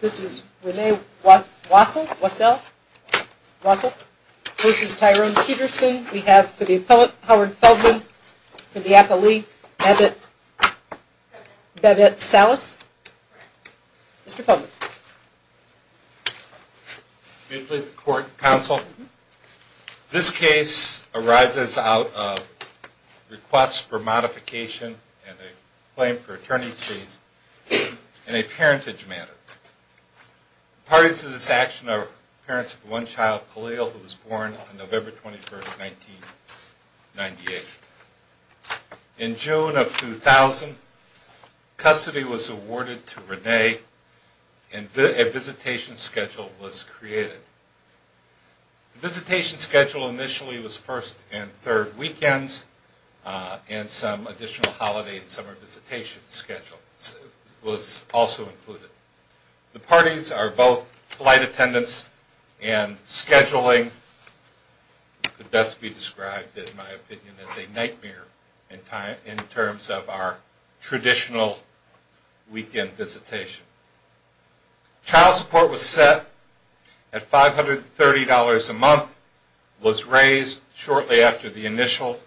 This is Rene Wassel. This is Tyrone Peterson. We have for the appellate Howard Feldman. For the appellee, Bevette Salas. Mr. Feldman. May it please the court, counsel. This case arises out of requests for modification and a claim for attorney's fees in a parentage matter. Parties to this action are parents of one child, Khalil, who was born on November 21, 1998. In June of 2000, custody was awarded to Rene, and a visitation schedule was created. The visitation schedule initially was first and third weekends, and some additional holiday and summer visitation schedules were also included. The parties are both flight attendants and scheduling could best be described, in my opinion, as a nightmare in terms of our traditional weekend visitation. Child support was set at $530 a month, was raised shortly after the initial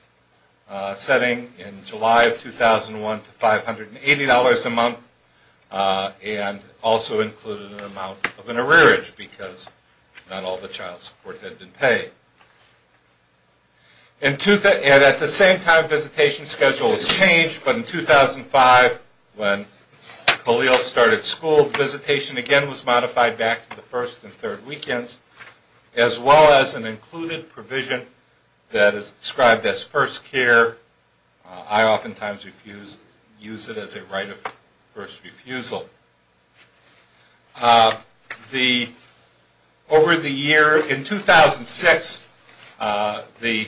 setting in July of 2001 to $580 a month, and also included an amount of an arrearage because not all the child support had been paid. At the same time, visitation schedule was changed, but in 2005, when Khalil started school, visitation again was modified back to the first and third weekends, as well as an included provision that is described as first care. I oftentimes use it as a right of first refusal. Over the year, in 2006, the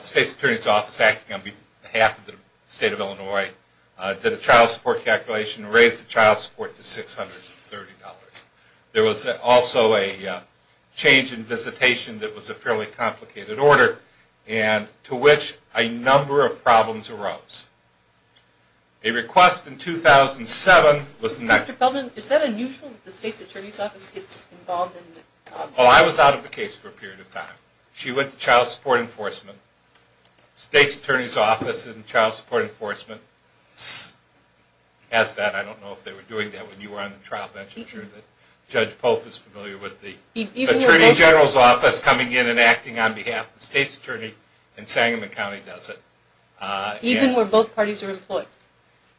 State's Attorney's Office, acting on behalf of the state of Illinois, did a child support calculation and raised the child support to $630. There was also a change in visitation that was a fairly complicated order, and to which a number of problems arose. A request in 2007 was next. I was out of the case for a period of time. She went to Child Support Enforcement. The State's Attorney's Office and Child Support Enforcement has that. I don't know if they were doing that when you were on the trial bench. I'm sure Judge Pope is familiar with the Attorney General's Office coming in and acting on behalf of the State's Attorney and Sangamon County does it. Even where both parties are employed?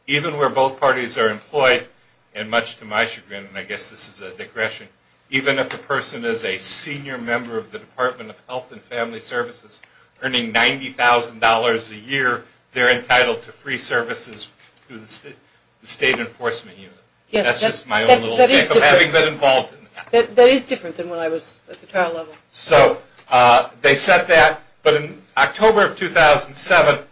Even where both parties are employed, and much to my chagrin, and I guess this is a digression, even if a person is a senior member of the Department of Health and Family Services earning $90,000 a year, they're entitled to free services through the State Enforcement Unit. That is different than when I was at the trial level. So they set that, but in October of 2007,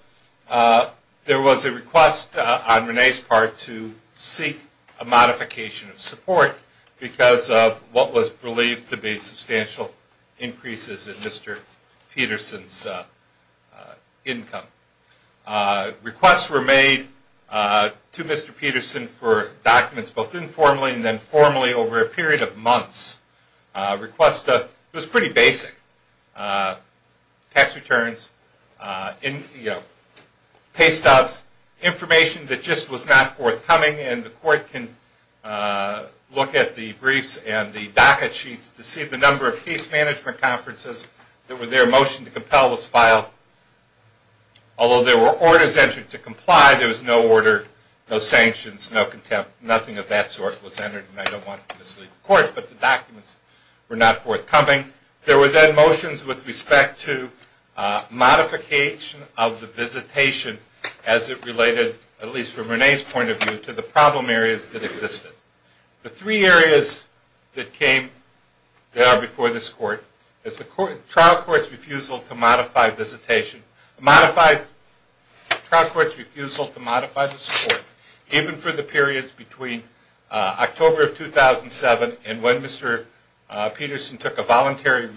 there was a request on Renee's part to seek a modification of support because of what was believed to be substantial increases in Mr. Peterson's income. Requests were made to Mr. Peterson for documents both informally and then formally over a period of months. It was pretty basic. Tax returns, pay stubs, information that just was not forthcoming and the court can look at the briefs and the docket sheets to see the number of case management conferences that were there. A motion to compel was filed. Although there were orders entered to comply, there was no order, no sanctions, no contempt, nothing of that sort was entered and I don't want to mislead the court, but the documents were not forthcoming. There were then motions with respect to modification of the visitation as it related, at least from Renee's point of view, to the problem areas that existed. The three areas that came, that are before this court, is the trial court's refusal to modify visitation, modified trial court's refusal to modify the support, even for the periods between October of 2007 and when Mr. Peterson took a voluntary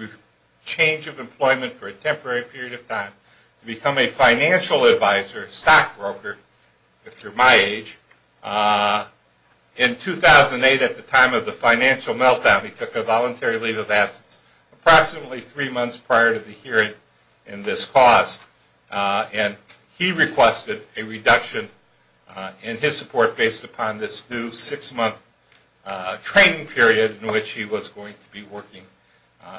change of employment for a temporary period of time to become a financial advisor, stockbroker, if you're my age, in 2008 at the time of the financial meltdown. He took a voluntary leave of absence approximately three months prior to the hearing in this cause and he requested a reduction in his support based upon this new six-month training period in which he was going to be working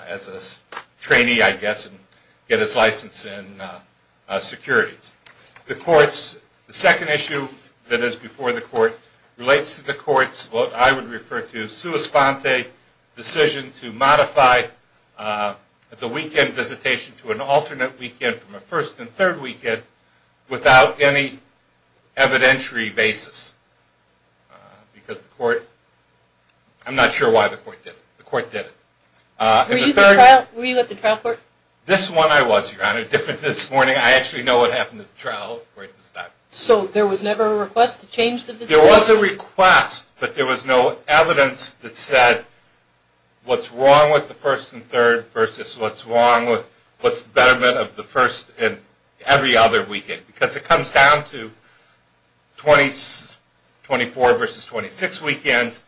as a trainee, I guess, and get his license in securities. The second issue that is before the court relates to the court's, what I would refer to as sua sponte decision to modify the weekend visitation to an alternate weekend from a first and third weekend without any evidentiary basis because the court, I'm not sure why the court did it, the court did it. Were you at the trial court? This one I was, Your Honor, different this morning. I actually know what happened at the trial court this time. So there was never a request to change the visitation? There was a request, but there was no evidence that said what's wrong with the first and third versus what's wrong with, what's the betterment of the first and every other weekend because it comes down to 24 versus 26 weekends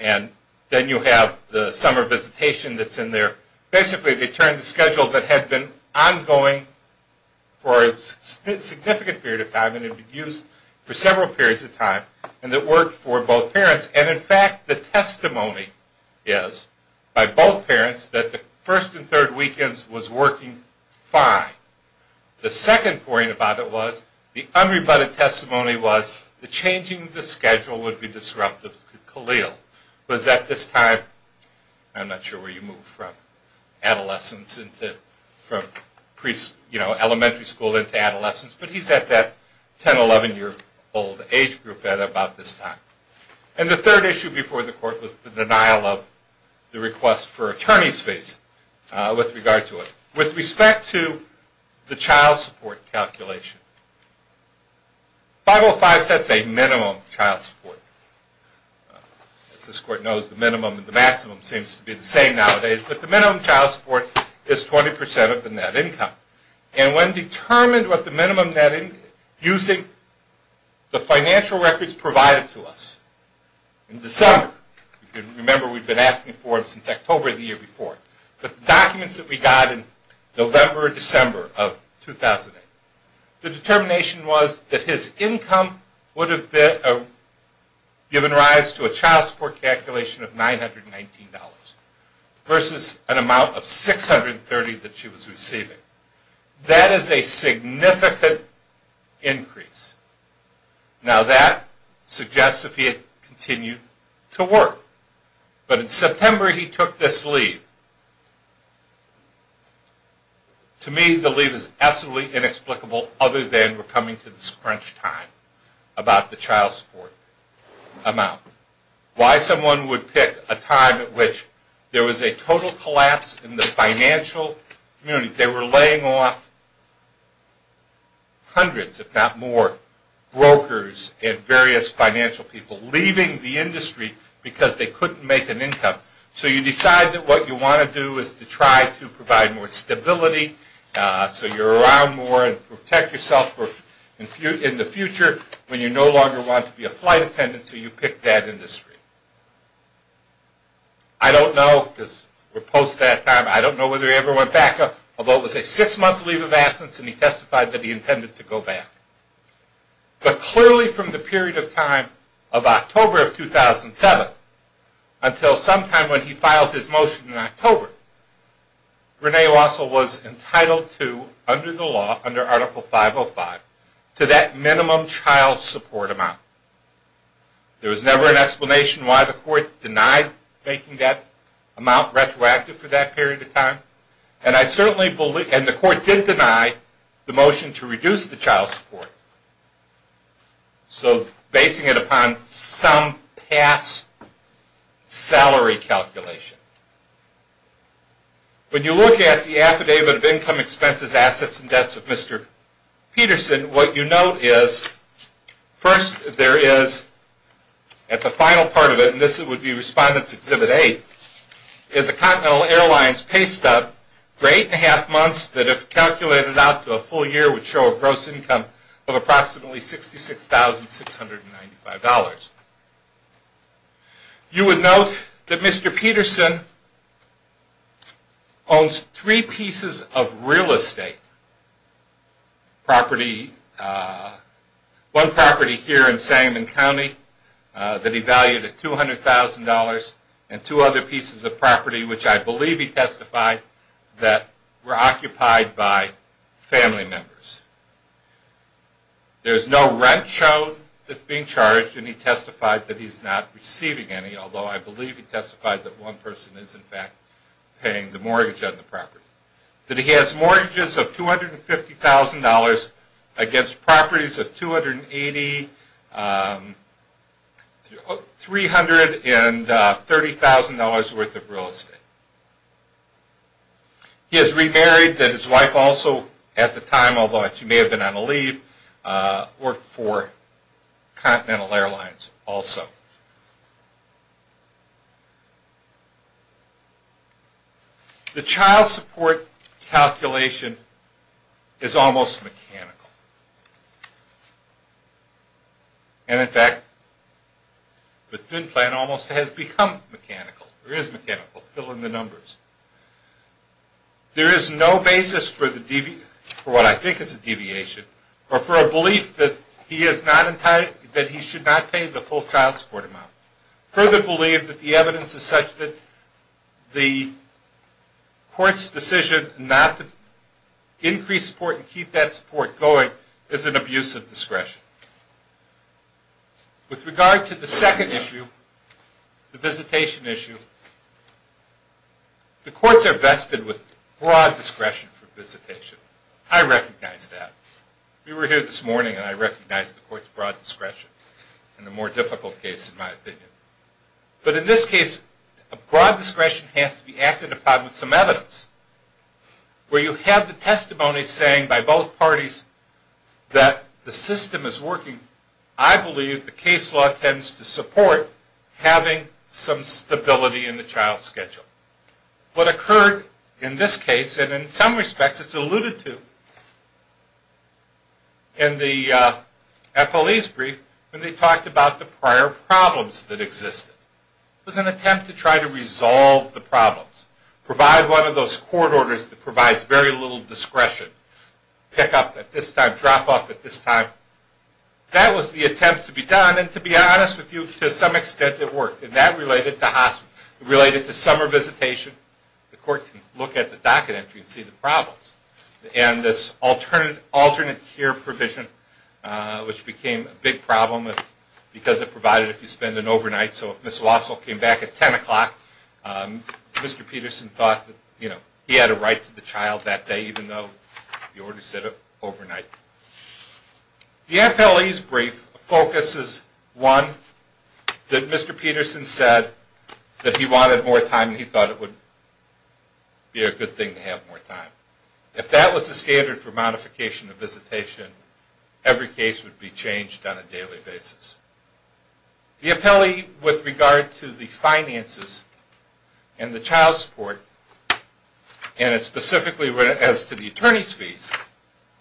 and then you have the summer visitation that's in there. So basically they turned the schedule that had been ongoing for a significant period of time and had been used for several periods of time and that worked for both parents and in fact the testimony is by both parents that the first and third weekends was working fine. The second point about it was the unrebutted testimony was the changing the schedule would be disruptive to Khalil because at this time, I'm not sure where you moved from adolescence into, from elementary school into adolescence, but he's at that 10, 11 year old age group at about this time. And the third issue before the court was the denial of the request for attorney's fees with regard to it. With respect to the child support calculation, 505 sets a minimum child support. As this court knows, the minimum and the maximum seems to be the same nowadays, but the minimum child support is 20% of the net income. And when determined what the minimum net income using the financial records provided to us in December, remember we've been asking for it since October of the year before, but the documents that we got in November or December of 2008, the determination was that his income would have given rise to a child support calculation of $919 versus an amount of $630 that she was receiving. That is a significant increase. Now that suggests that he had continued to work. But in September he took this leave. To me the leave is absolutely inexplicable other than we're coming to this crunch time about the child support amount. Why someone would pick a time at which there was a total collapse in the financial community. They were laying off hundreds if not more brokers and various financial people leaving the industry because they couldn't make an income. So you decide that what you want to do is to try to provide more stability so you're around more and protect yourself in the future when you no longer want to be a flight attendant. So you pick that industry. I don't know, because we're post that time, I don't know whether he ever went back, although it was a six month leave of absence and he testified that he intended to go back. But clearly from the period of time of October of 2007 until sometime when he filed his motion in October, Rene Lasso was entitled to, under the law, under Article 505, to that minimum child support amount. There was never an explanation why the court denied making that amount retroactive for that period of time. And the court did deny the motion to reduce the child support. So basing it upon some past salary calculation. When you look at the Affidavit of Income Expenses, Assets and Debts of Mr. Peterson, what you note is first there is at the final part of it, and this would be Respondents Exhibit 8, is a Continental Airlines pay stub for eight and a half months that, if calculated out to a full year, would show a gross income of approximately $66,695. You would note that Mr. Peterson owns three pieces of real estate property. One property here in Sangamon County that he valued at $200,000 and two other pieces of property, which I believe he testified that were occupied by family members. There is no rent shown that is being charged and he testified that he is not receiving any, although I believe he testified that one person is in fact paying the mortgage on the property. He testified that he has mortgages of $250,000 against properties of $280,000, $300,000 and $30,000 worth of real estate. He has remarried and his wife also, at the time, although she may have been on a leave, worked for Continental Airlines also. The child support calculation is almost mechanical. And, in fact, the fin plan almost has become mechanical, or is mechanical. Fill in the numbers. There is no basis for what I think is a deviation or for a belief that he should not pay the full child support amount. I further believe that the evidence is such that the court's decision not to increase support and keep that support going is an abuse of discretion. With regard to the second issue, the visitation issue, the courts are vested with broad discretion for visitation. I recognize that. We were here this morning and I recognize the court's broad discretion in a more difficult case, in my opinion. But, in this case, a broad discretion has to be acted upon with some evidence. Where you have the testimony saying by both parties that the system is working, I believe the case law tends to support having some stability in the child's schedule. What occurred in this case, and in some respects it's alluded to, in the FLE's brief when they talked about the prior problems that existed, was an attempt to try to resolve the problems. Provide one of those court orders that provides very little discretion. Pick up at this time, drop off at this time. That was the attempt to be done. And, to be honest with you, to some extent it worked. And, that related to summer visitation. The court can look at the docket entry and see the problems. And, this alternate care provision, which became a big problem because it provided if you spend an overnight. So, if Ms. Watzel came back at 10 o'clock, Mr. Peterson thought that he had a right to the child that day, even though he already said it overnight. The FLE's brief focuses, one, that Mr. Peterson said that he wanted more time and he thought it would be a good thing to have more time. If that was the standard for modification of visitation, every case would be changed on a daily basis. The FLE, with regard to the finances and the child support, and specifically as to the attorney's fees,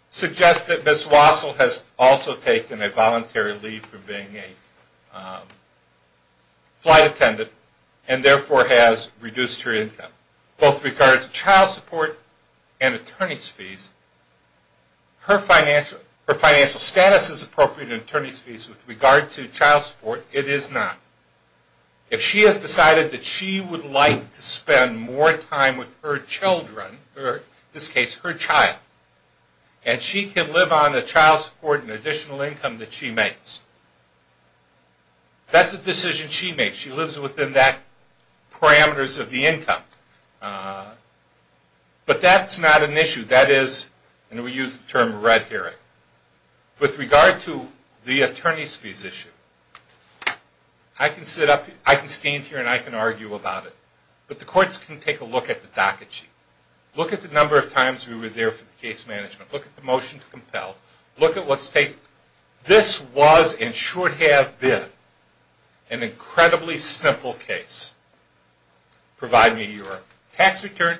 suggests that Ms. Watzel has also taken a voluntary leave from being a flight attendant and, therefore, has reduced her income. Both with regard to child support and attorney's fees, her financial status is appropriate in attorney's fees. With regard to child support, it is not. If she has decided that she would like to spend more time with her children, or, in this case, her child, and she can live on the child support and additional income that she makes, that's a decision she makes. She lives within that parameters of the income. But, that's not an issue. That is, and we use the term red herring. With regard to the attorney's fees issue, I can stand here and I can argue about it, but the courts can take a look at the docket sheet. Look at the number of times we were there for the case management. Look at the motion to compel. Look at what state. This was, and should have been, an incredibly simple case. Provide me your tax return.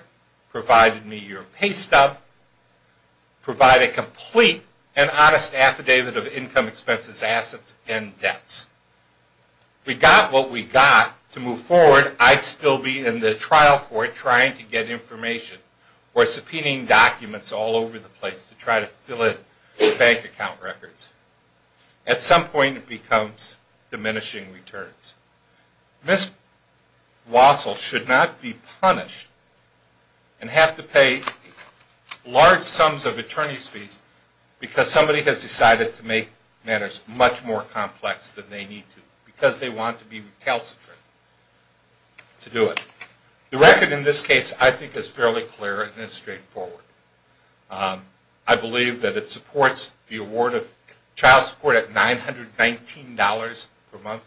Provide me your pay stub. Provide a complete and honest affidavit of income expenses, assets, and debts. We got what we got. To move forward, I'd still be in the trial court trying to get information or subpoenaing documents all over the place to try to fill in the bank account records. At some point, it becomes diminishing returns. Ms. Wassell should not be punished and have to pay large sums of attorney's fees because somebody has decided to make matters much more complex than they need to because they want to be recalcitrant to do it. The record in this case, I think, is fairly clear and it's straightforward. I believe that it supports the award of child support at $919 per month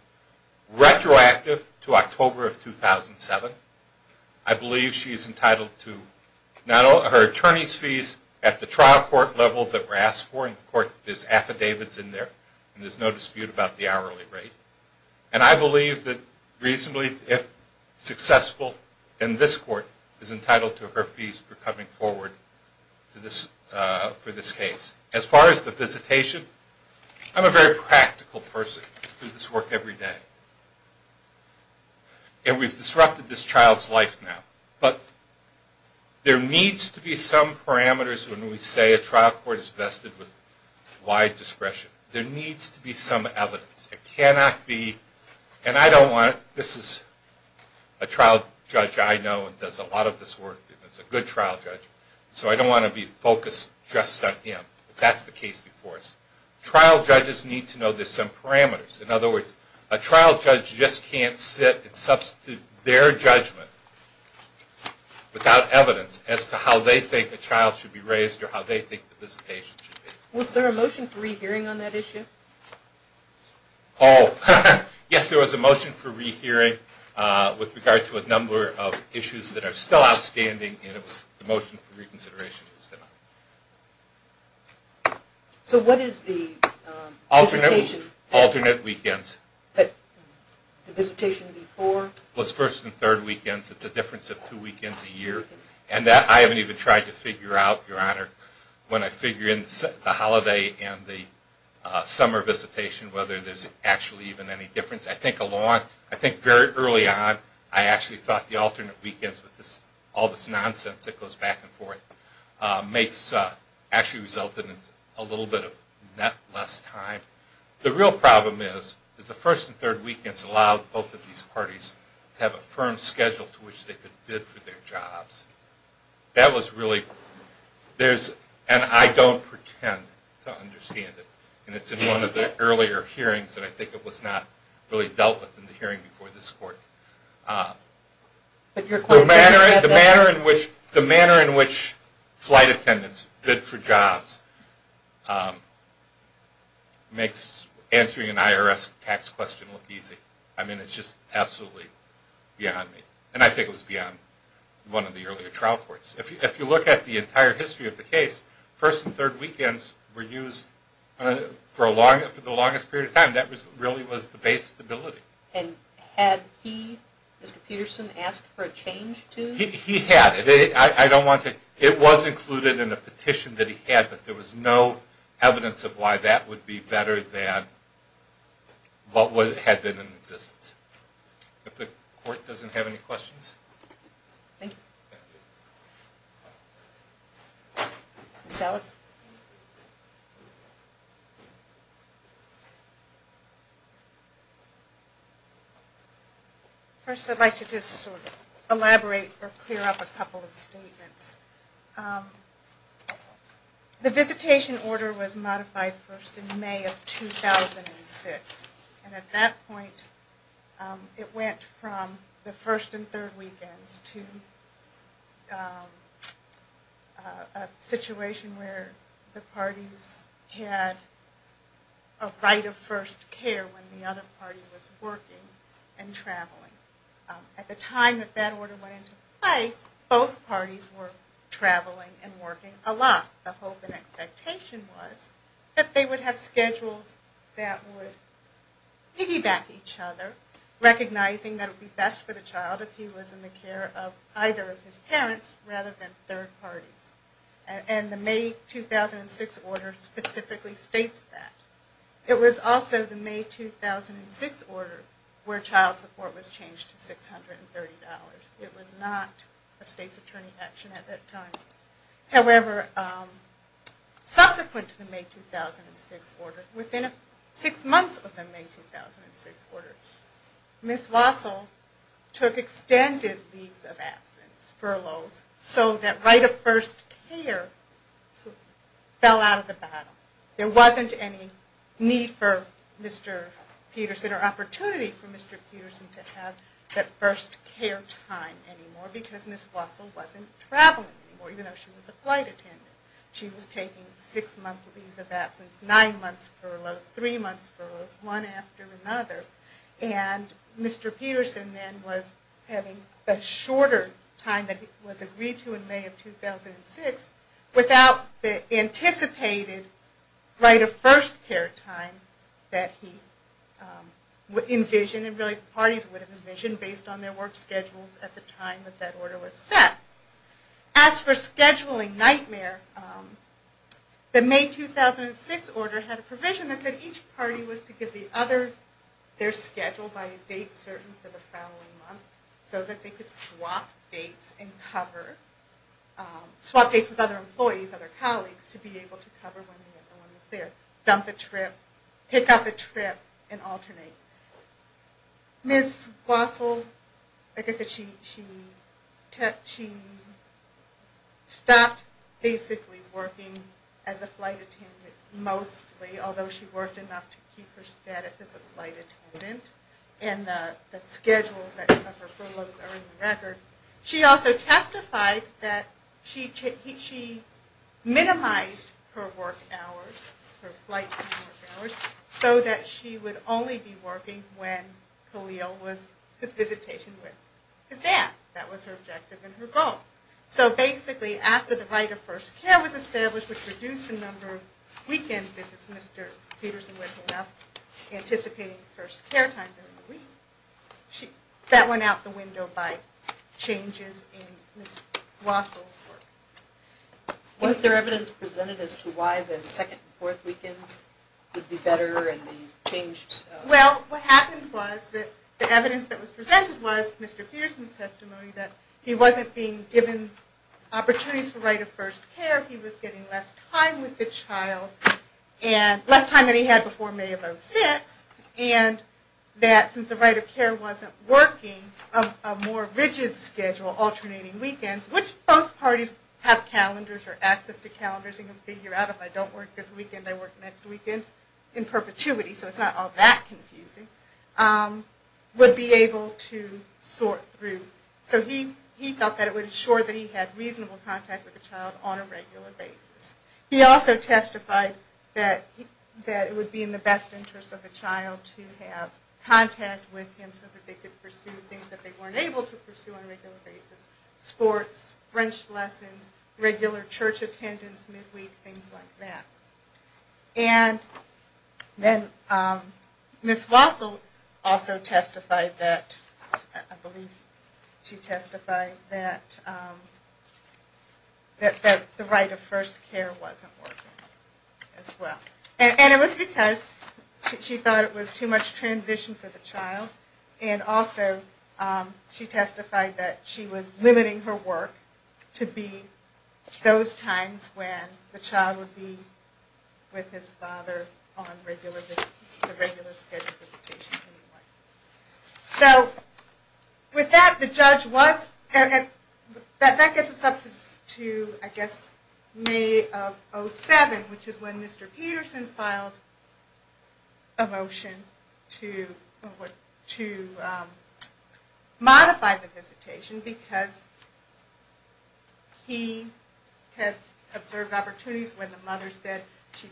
retroactive to October of 2007. I believe she is entitled to her attorney's fees at the trial court level that we're asked for. The court affidavit is in there. There's no dispute about the hourly rate. I believe that reasonably, if successful, this court is entitled to her fees for coming forward for this case. As far as the visitation, I'm a very practical person. I do this work every day. And we've disrupted this child's life now. But there needs to be some parameters when we say a trial court is vested with wide discretion. There needs to be some evidence. It cannot be, and I don't want it, this is a trial judge I know and does a lot of this work and is a good trial judge, so I don't want to be focused just on him. That's the case before us. Trial judges need to know there's some parameters. In other words, a trial judge just can't sit and substitute their judgment without evidence as to how they think a child should be raised or how they think the visitation should be. Was there a motion for rehearing on that issue? Oh, yes, there was a motion for rehearing with regard to a number of issues that are still outstanding and the motion for reconsideration is done. So what is the visitation? Alternate weekends. The visitation before? It was first and third weekends. It's a difference of two weekends a year. And I haven't even tried to figure out, Your Honor, when I figure in the holiday and the summer visitation whether there's actually even any difference. I think very early on I actually thought the alternate weekends with all this nonsense that goes back and forth actually resulted in a little bit less time. The real problem is the first and third weekends allow both of these parties to have a firm schedule to which they could bid for their jobs. That was really... And I don't pretend to understand it. And it's in one of the earlier hearings that I think it was not really dealt with in the hearing before this Court. The manner in which flight attendants bid for jobs makes answering an IRS tax question look easy. I mean, it's just absolutely beyond me. And I think it was beyond one of the earlier trial courts. If you look at the entire history of the case, first and third weekends were used for the longest period of time. That really was the base stability. And had he, Mr. Peterson, asked for a change to... He had. I don't want to... It was included in a petition that he had, but there was no evidence of why that would be better than what had been in existence. If the Court doesn't have any questions. Thank you. Ms. Ellis? First, I'd like to just sort of elaborate or clear up a couple of statements. The visitation order was modified first in May of 2006. And at that point, it went from the first and third weekends to a situation where the parties had a right of first care when the other party was working and traveling. At the time that that order went into place, both parties were traveling and working a lot. The hope and expectation was that they would have schedules that would piggyback each other, recognizing that it would be best for the child if he was in the care of either of his parents rather than third parties. And the May 2006 order specifically states that. It was also the May 2006 order where child support was changed to $630. It was not a state's attorney action at that time. However, subsequent to the May 2006 order, within six months of the May 2006 order, Ms. Wassel took extended leave of absence, furloughs, so that right of first care fell out of the battle. There wasn't any need for Mr. Peterson or opportunity for Mr. Peterson to have that first care time anymore because Ms. Wassel wasn't traveling anymore, even though she was a flight attendant. She was taking six months leave of absence, nine months furloughs, three months furloughs, one after another. And Mr. Peterson then was having a shorter time than was agreed to in May of 2006 without the anticipated right of first care time that he envisioned, and really parties would have envisioned based on their work schedules at the time that that order was set. As for scheduling nightmare, the May 2006 order had a provision that said each party was to give the other their schedule by a date certain for the following month so that they could swap dates and cover, swap dates with other employees, other colleagues, to be able to cover when the other one was there, dump a trip, pick up a trip, and alternate. Ms. Wassel, I guess she stopped basically working as a flight attendant mostly, although she worked enough to keep her status as a flight attendant, and the schedules that cover furloughs are in the record. She also testified that she minimized her work hours, her flight time work hours, so that she would only be working when Khalil was to visitation with his dad. That was her objective and her goal. So basically after the right of first care was established which reduced the number of weekend visits Mr. Peterson would have anticipating first care time during the week, that went out the window by changes in Ms. Wassel's work. Was there evidence presented as to why the second and fourth weekends would be better and the changes? Well, what happened was that the evidence that was presented was Mr. Peterson's testimony that he wasn't being given opportunities for right of first care, he was getting less time with the child, less time than he had before May of 06, and that since the right of care wasn't working, a more rigid schedule, alternating weekends, which both parties have calendars or access to calendars and can figure out if I don't work this weekend I work next weekend, in perpetuity, so it's not all that confusing, would be able to sort through. So he felt that it would ensure that he had reasonable contact with the child on a regular basis. He also testified that it would be in the best interest of the child to have contact with him so that they could pursue things that they weren't able to pursue on a regular basis, sports, French lessons, regular church attendance, midweek, things like that. And then Ms. Wassel also testified that, I believe she testified that the right of first care wasn't working as well. And it was because she thought it was too much transition for the child, and also she testified that she was limiting her work to be those times when the child would be with his father on the regular scheduled visitation. So with that, the judge was, that gets us up to, I guess, May of 07, which is when Mr. Peterson filed a motion to modify the visitation, because he had observed opportunities when the mother said she'd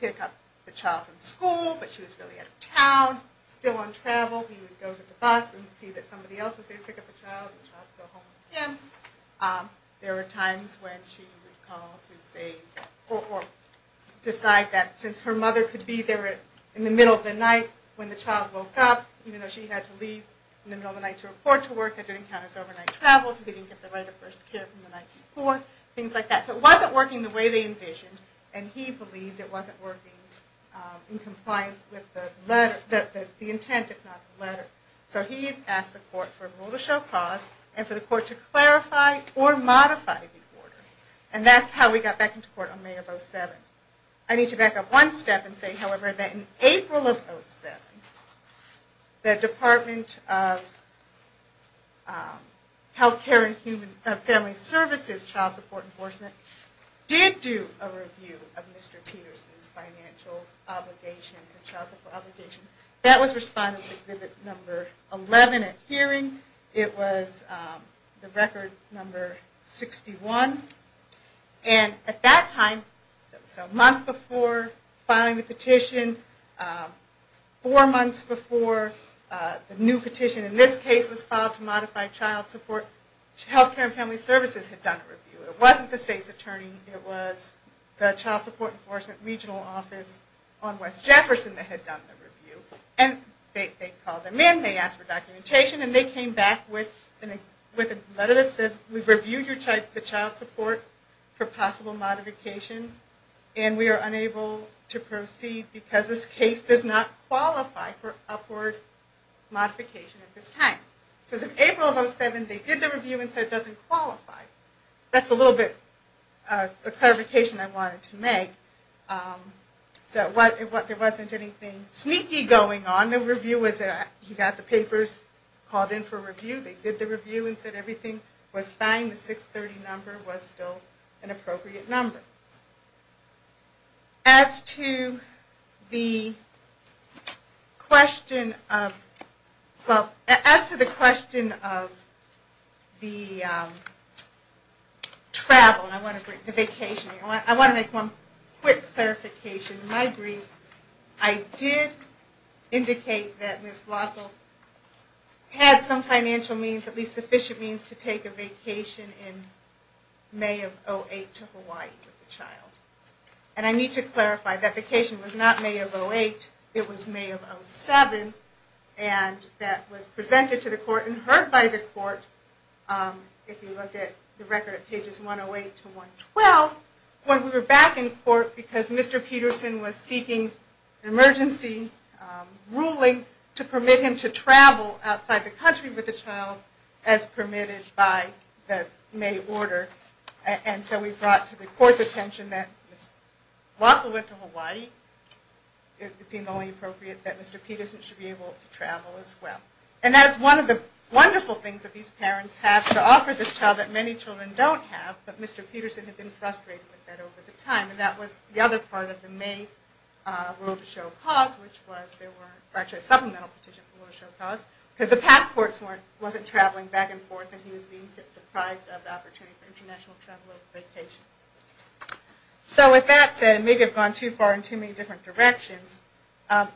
pick up the child from school, but she was really out of town, still on travel, he would go to the bus and see that somebody else was there to pick up the child, and the child would go home with him. There were times when she would call to say, or decide that since her mother could be there in the middle of the night when the child woke up, even though she had to leave in the middle of the night to report to work, that didn't count as overnight travel, so they didn't get the right of first care from the night before, things like that. So it wasn't working the way they envisioned, and he believed it wasn't working in compliance with the letter, the intent, if not the letter. So he asked the court for a rule to show cause, and for the court to clarify or modify the order. And that's how we got back into court on May of 2007. I need to back up one step and say, however, that in April of 2007, the Department of Health Care and Family Services Child Support Enforcement did do a review of Mr. Peterson's financial obligations and child support obligations. That was Respondent Exhibit Number 11 at hearing. It was the record number 61. And at that time, so a month before filing the petition, four months before the new petition in this case was filed to modify child support, Health Care and Family Services had done a review. It wasn't the state's attorney. It was the Child Support Enforcement Regional Office on West Jefferson that had done the review. And they called them in, they asked for documentation, and they came back with a letter that says, we've reviewed the child support for possible modification, and we are unable to proceed because this case does not qualify for upward modification at this time. So as of April of 2007, they did the review and said it doesn't qualify. That's a little bit of a clarification I wanted to make. So there wasn't anything sneaky going on. He got the papers, called in for review, they did the review and said everything was fine. The 630 number was still an appropriate number. As to the question of the travel, the vacation, I want to make one quick clarification. In my brief, I did indicate that Ms. Wassell had some financial means, at least sufficient means, to take a vacation in May of 2008 to Hawaii with the child. And I need to clarify that vacation was not May of 2008, it was May of 2007, and that was presented to the court and heard by the court, if you look at the record at pages 108 to 112, when we were back in court because Mr. Peterson was seeking an emergency ruling to permit him to travel outside the country with the child as permitted by the May order. And so we brought to the court's attention that Ms. Wassell went to Hawaii. It seemed only appropriate that Mr. Peterson should be able to travel as well. And that is one of the wonderful things that these parents have to offer this child that many children don't have. But Mr. Peterson had been frustrated with that over the time, and that was the other part of the May rule to show cause, which was there were actually a supplemental petition for rule to show cause, because the past courts wasn't traveling back and forth and he was being deprived of the opportunity for international travel or vacation. So with that said, and maybe I've gone too far in too many different directions,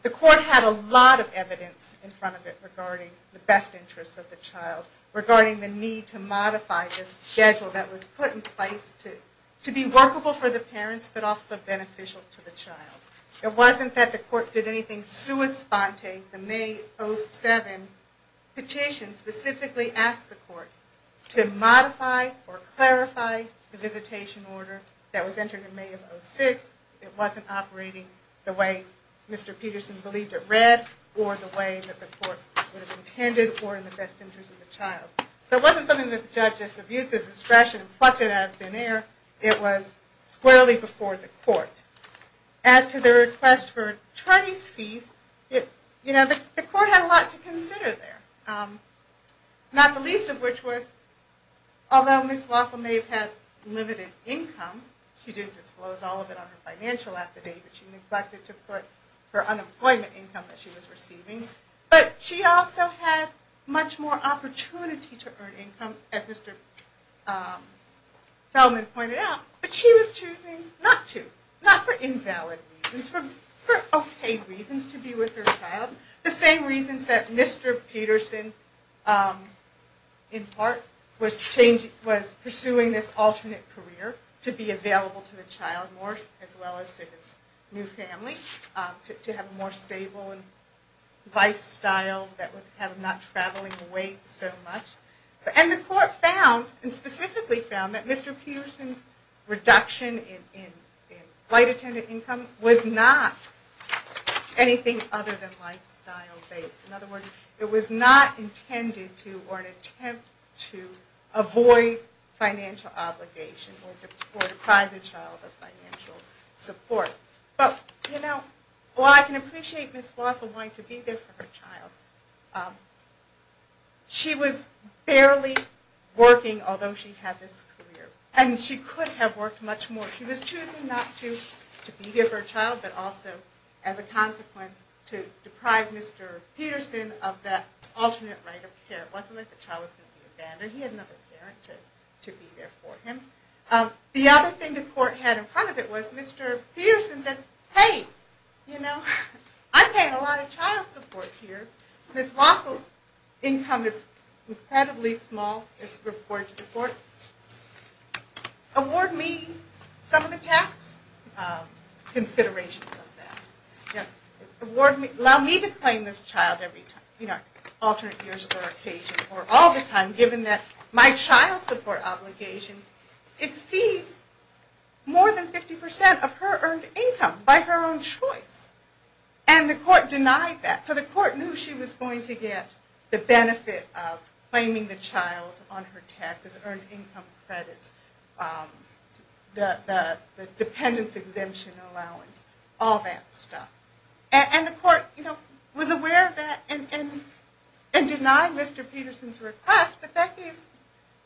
the court had a lot of evidence in front of it regarding the best interests of the child, regarding the need to modify the schedule that was put in place to be workable for the parents but also beneficial to the child. It wasn't that the court did anything sui sponte. The May 07 petition specifically asked the court to modify or clarify the visitation order that was entered in May of 06. It wasn't operating the way Mr. Peterson believed it read or the way that the court would have intended or in the best interests of the child. So it wasn't something that the judge just abused as discretion and plucked it out of thin air. It was squarely before the court. As to the request for attorneys' fees, the court had a lot to consider there, not the least of which was, although Ms. Walsall may have had limited income, she didn't disclose all of it on her financial affidavit, she neglected to put her unemployment income that she was receiving, but she also had much more opportunity to earn income, as Mr. Feldman pointed out, but she was choosing not to, not for invalid reasons, for okay reasons to be with her child, the same reasons that Mr. Peterson, in part, was pursuing this alternate career to be available to the child more as well as to his new family, to have a more stable lifestyle that would have him not traveling away so much. And the court found, and specifically found, that Mr. Peterson's reduction in flight attendant income was not anything other than lifestyle-based. In other words, it was not intended to or an attempt to avoid financial obligation or deprive the child of financial support. Well, I can appreciate Ms. Walsall wanting to be there for her child. She was barely working, although she had this career, and she could have worked much more. She was choosing not to be there for her child, but also, as a consequence, to deprive Mr. Peterson of that alternate right of care. It wasn't like the child was going to be abandoned. He had another parent to be there for him. The other thing the court had in front of it was that Mr. Peterson said, hey, you know, I'm paying a lot of child support here. Ms. Walsall's income is incredibly small, as reported to the court. Award me some of the tax considerations of that. Allow me to claim this child every time, alternate years or occasion, or all the time, given that my child support obligation exceeds more than 50% of her earned income by her own choice. And the court denied that. So the court knew she was going to get the benefit of claiming the child on her taxes, earned income credits, the dependence exemption allowance, all that stuff. And the court was aware of that and denied Mr. Peterson's request, but that gave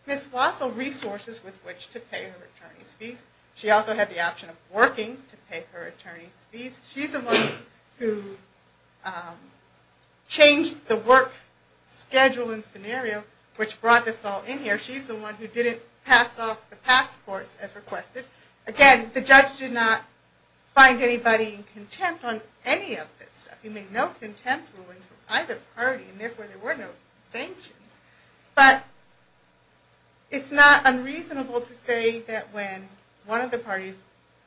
Ms. Walsall resources with which to pay her attorney's fees. She also had the option of working to pay her attorney's fees. She's the one who changed the work schedule and scenario which brought this all in here. She's the one who didn't pass off the passports as requested. Again, the judge did not find anybody in contempt on any of this stuff. He made no contempt rulings for either party, and therefore there were no sanctions. But it's not unreasonable to say that when one of the parties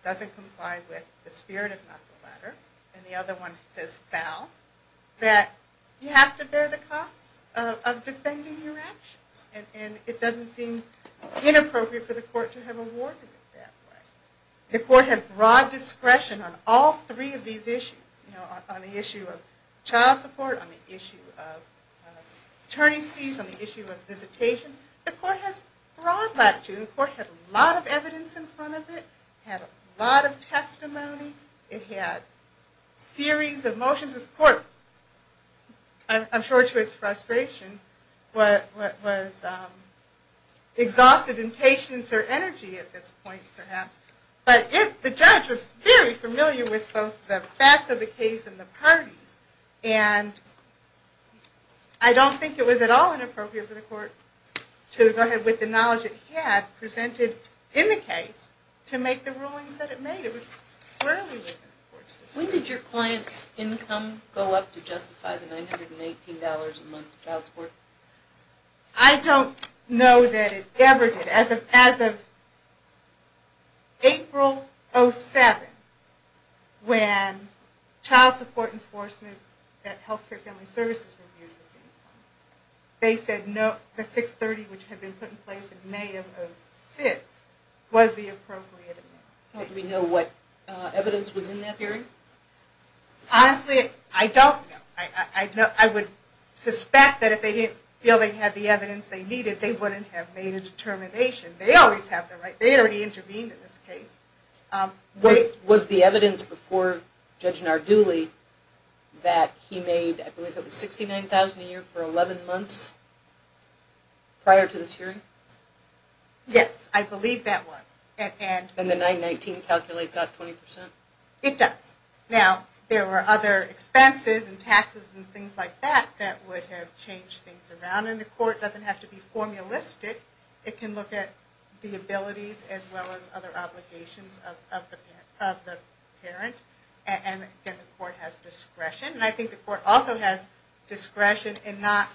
doesn't comply with the spirit of not the latter, and the other one says foul, that you have to bear the costs of defending your actions. And it doesn't seem inappropriate for the court to have awarded it that way. The court had broad discretion on all three of these issues. On the issue of child support, on the issue of attorney's fees, on the issue of visitation. The court has broad latitude. The court had a lot of evidence in front of it. It had a lot of testimony. It had a series of motions. This court, I'm sure to its frustration, was exhausted in patience or energy at this point, perhaps. But the judge was very familiar with both the facts of the case and the parties. And I don't think it was at all inappropriate for the court to go ahead with the knowledge it had presented in the case to make the rulings that it made. It was squarely within the court's decision. When did your client's income go up to justify the $918 a month child support? I don't know that it ever did. As of April 07, when Child Support Enforcement at Healthcare Family Services reviewed this income, they said the $630, which had been put in place in May of 06, was the appropriate amount. Do we know what evidence was in that hearing? Honestly, I don't know. I would suspect that if they didn't feel they had the evidence they needed, they wouldn't have made a determination. They always have the right. They already intervened in this case. Was the evidence before Judge Narduli that he made $69,000 a year for 11 months prior to this hearing? Yes, I believe that was. And the $919 calculates out 20%? It does. Now, there were other expenses and taxes and things like that that would have changed things around in the court. It doesn't have to be formulistic. It can look at the abilities as well as other obligations of the parent. And, again, the court has discretion. And I think the court also has discretion to not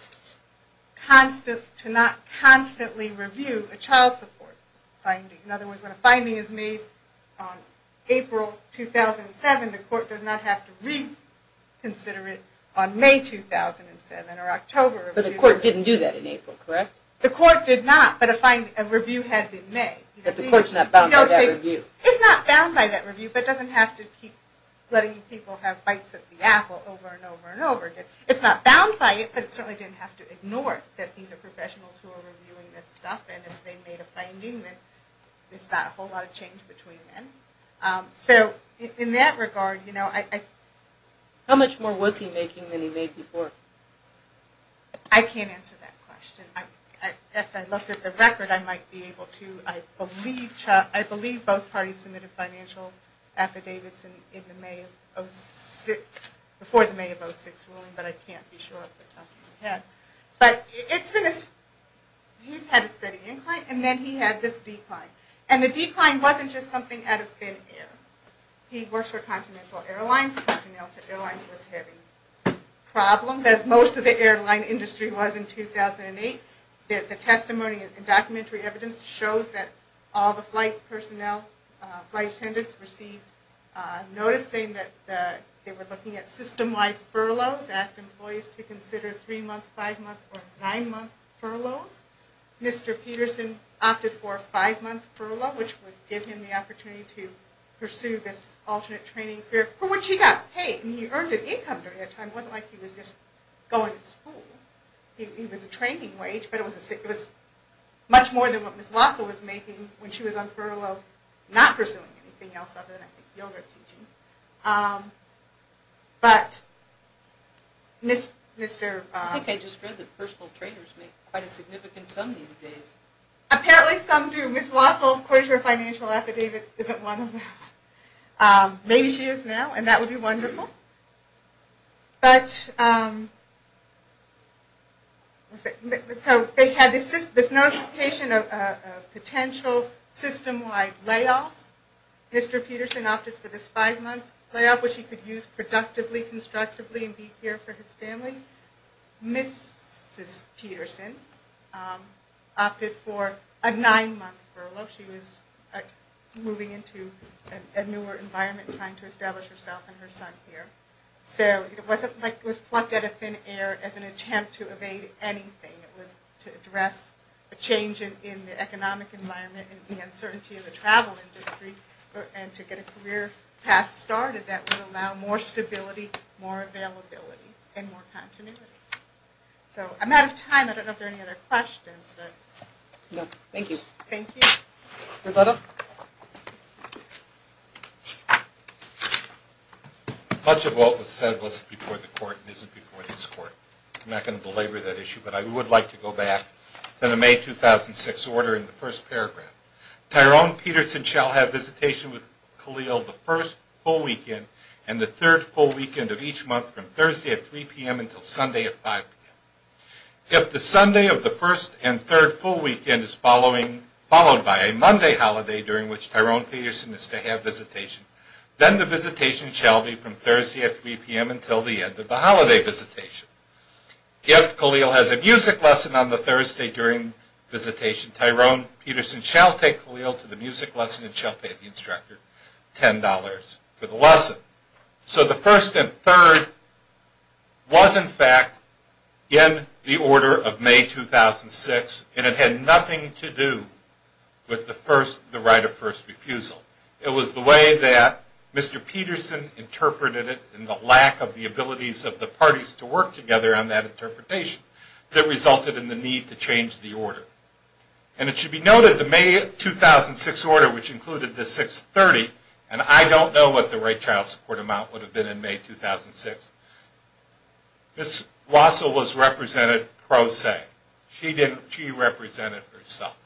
constantly review a child support finding. In other words, when a finding is made on April 2007, the court does not have to reconsider it on May 2007 or October 2007. But the court didn't do that in April, correct? The court did not, but a review had been made. But the court's not bound by that review. It's not bound by that review, but it doesn't have to keep letting people have bites at the apple over and over and over again. It's not bound by it, but it certainly didn't have to ignore that these are professionals who are reviewing this stuff. And if they made a finding, then there's not a whole lot of change between them. So in that regard, you know, I... How much more was he making than he made before? I can't answer that question. As I looked at the record, I might be able to. I believe both parties submitted financial affidavits in the May of 06, before the May of 06 ruling, but I can't be sure off the top of my head. But it's been a... He's had a steady incline, and then he had this decline. And the decline wasn't just something out of thin air. He works for Continental Airlines. Continental Airlines was having problems, as most of the airline industry was in 2008. The testimony and documentary evidence shows that all the flight personnel, flight attendants, received notice saying that they were looking at system-wide furloughs, asked employees to consider three-month, five-month, or nine-month furloughs. Mr. Peterson opted for a five-month furlough, which would give him the opportunity to pursue this alternate training career, for which he got paid. And he earned an income during that time. It wasn't like he was just going to school. He was a training wage, but it was much more than what Ms. Wassel was making when she was on furlough, not pursuing anything else other than yoga teaching. I think I just read that personal trainers make quite a significant sum these days. Apparently some do. Ms. Wassel, of course, her financial affidavit isn't one of them. Maybe she is now, and that would be wonderful. So they had this notification of potential system-wide layoffs. Mr. Peterson opted for this five-month layoff, which he could use productively, constructively, and be here for his family. Mrs. Peterson opted for a nine-month furlough. She was moving into a newer environment, trying to establish herself and her son here. It wasn't like it was plucked out of thin air as an attempt to evade anything. It was to address a change in the economic environment and the uncertainty of the travel industry and to get a career path started that would allow more stability, more availability, and more continuity. I'm out of time. I don't know if there are any other questions. No, thank you. Thank you. Roberta? Much of what was said was before the Court and isn't before this Court. I'm not going to belabor that issue, but I would like to go back to the May 2006 order in the first paragraph. Tyrone Peterson shall have visitation with Khalil the first full weekend and the third full weekend of each month from Thursday at 3 p.m. until Sunday at 5 p.m. If the Sunday of the first and third full weekend is followed by a Monday holiday, during which Tyrone Peterson is to have visitation, then the visitation shall be from Thursday at 3 p.m. until the end of the holiday visitation. If Khalil has a music lesson on the Thursday during visitation, Tyrone Peterson shall take Khalil to the music lesson and shall pay the instructor $10 for the lesson. So the first and third was, in fact, in the order of May 2006, and it had nothing to do with the right of first refusal. It was the way that Mr. Peterson interpreted it and the lack of the abilities of the parties to work together on that interpretation that resulted in the need to change the order. And it should be noted the May 2006 order, which included the 630, and I don't know what the rate child support amount would have been in May 2006. Ms. Wassell was represented pro se. She represented herself.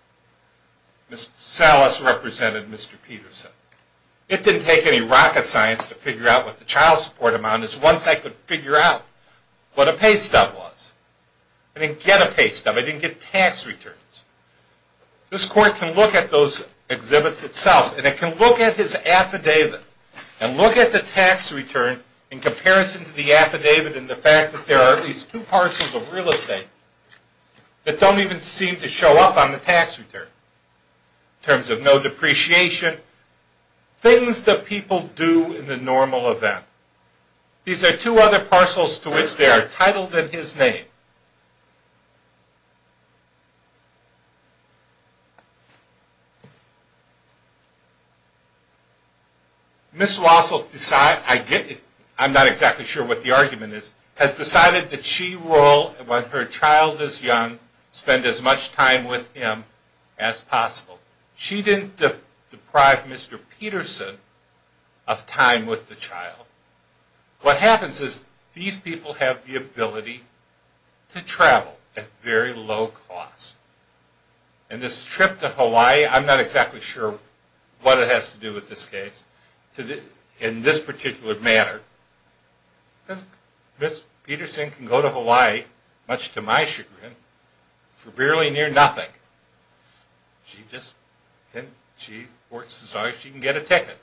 Ms. Salas represented Mr. Peterson. It didn't take any rocket science to figure out what the child support amount is. Once I could figure out what a pay stub was, I didn't get a pay stub. I didn't get tax returns. This Court can look at those exhibits itself, and it can look at his affidavit and look at the tax return in comparison to the affidavit and the fact that there are at least two parcels of real estate that don't even seem to show up on the tax return in terms of no depreciation, things that people do in the normal event. These are two other parcels to which they are titled in his name. Ms. Wassell decided, I'm not exactly sure what the argument is, has decided that she will, when her child is young, spend as much time with him as possible. She didn't deprive Mr. Peterson of time with the child. What happens is these people have the ability to travel at very low cost. And this trip to Hawaii, I'm not exactly sure what it has to do with this case, in this particular manner. Ms. Peterson can go to Hawaii, much to my chagrin, for barely near nothing. She works as long as she can get a ticket.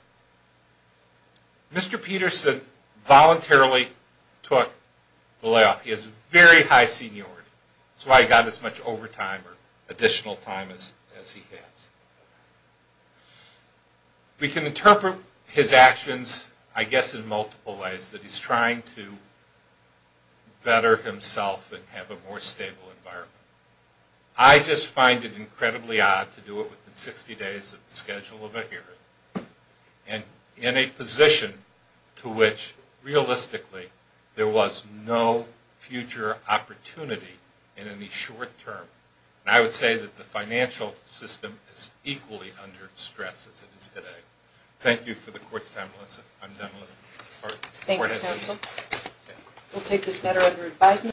Mr. Peterson voluntarily took the layoff. He has very high seniority. That's why he got as much overtime or additional time as he has. We can interpret his actions, I guess, in multiple ways, that he's trying to better himself and have a more stable environment. I just find it incredibly odd to do it within 60 days of the schedule of a hearing, and in a position to which, realistically, there was no future opportunity in any short term. And I would say that the financial system is equally under stress as it is today. Thank you for the court's time, Melissa. I'm done, Melissa. Thank you, counsel. We'll take this matter under advisement.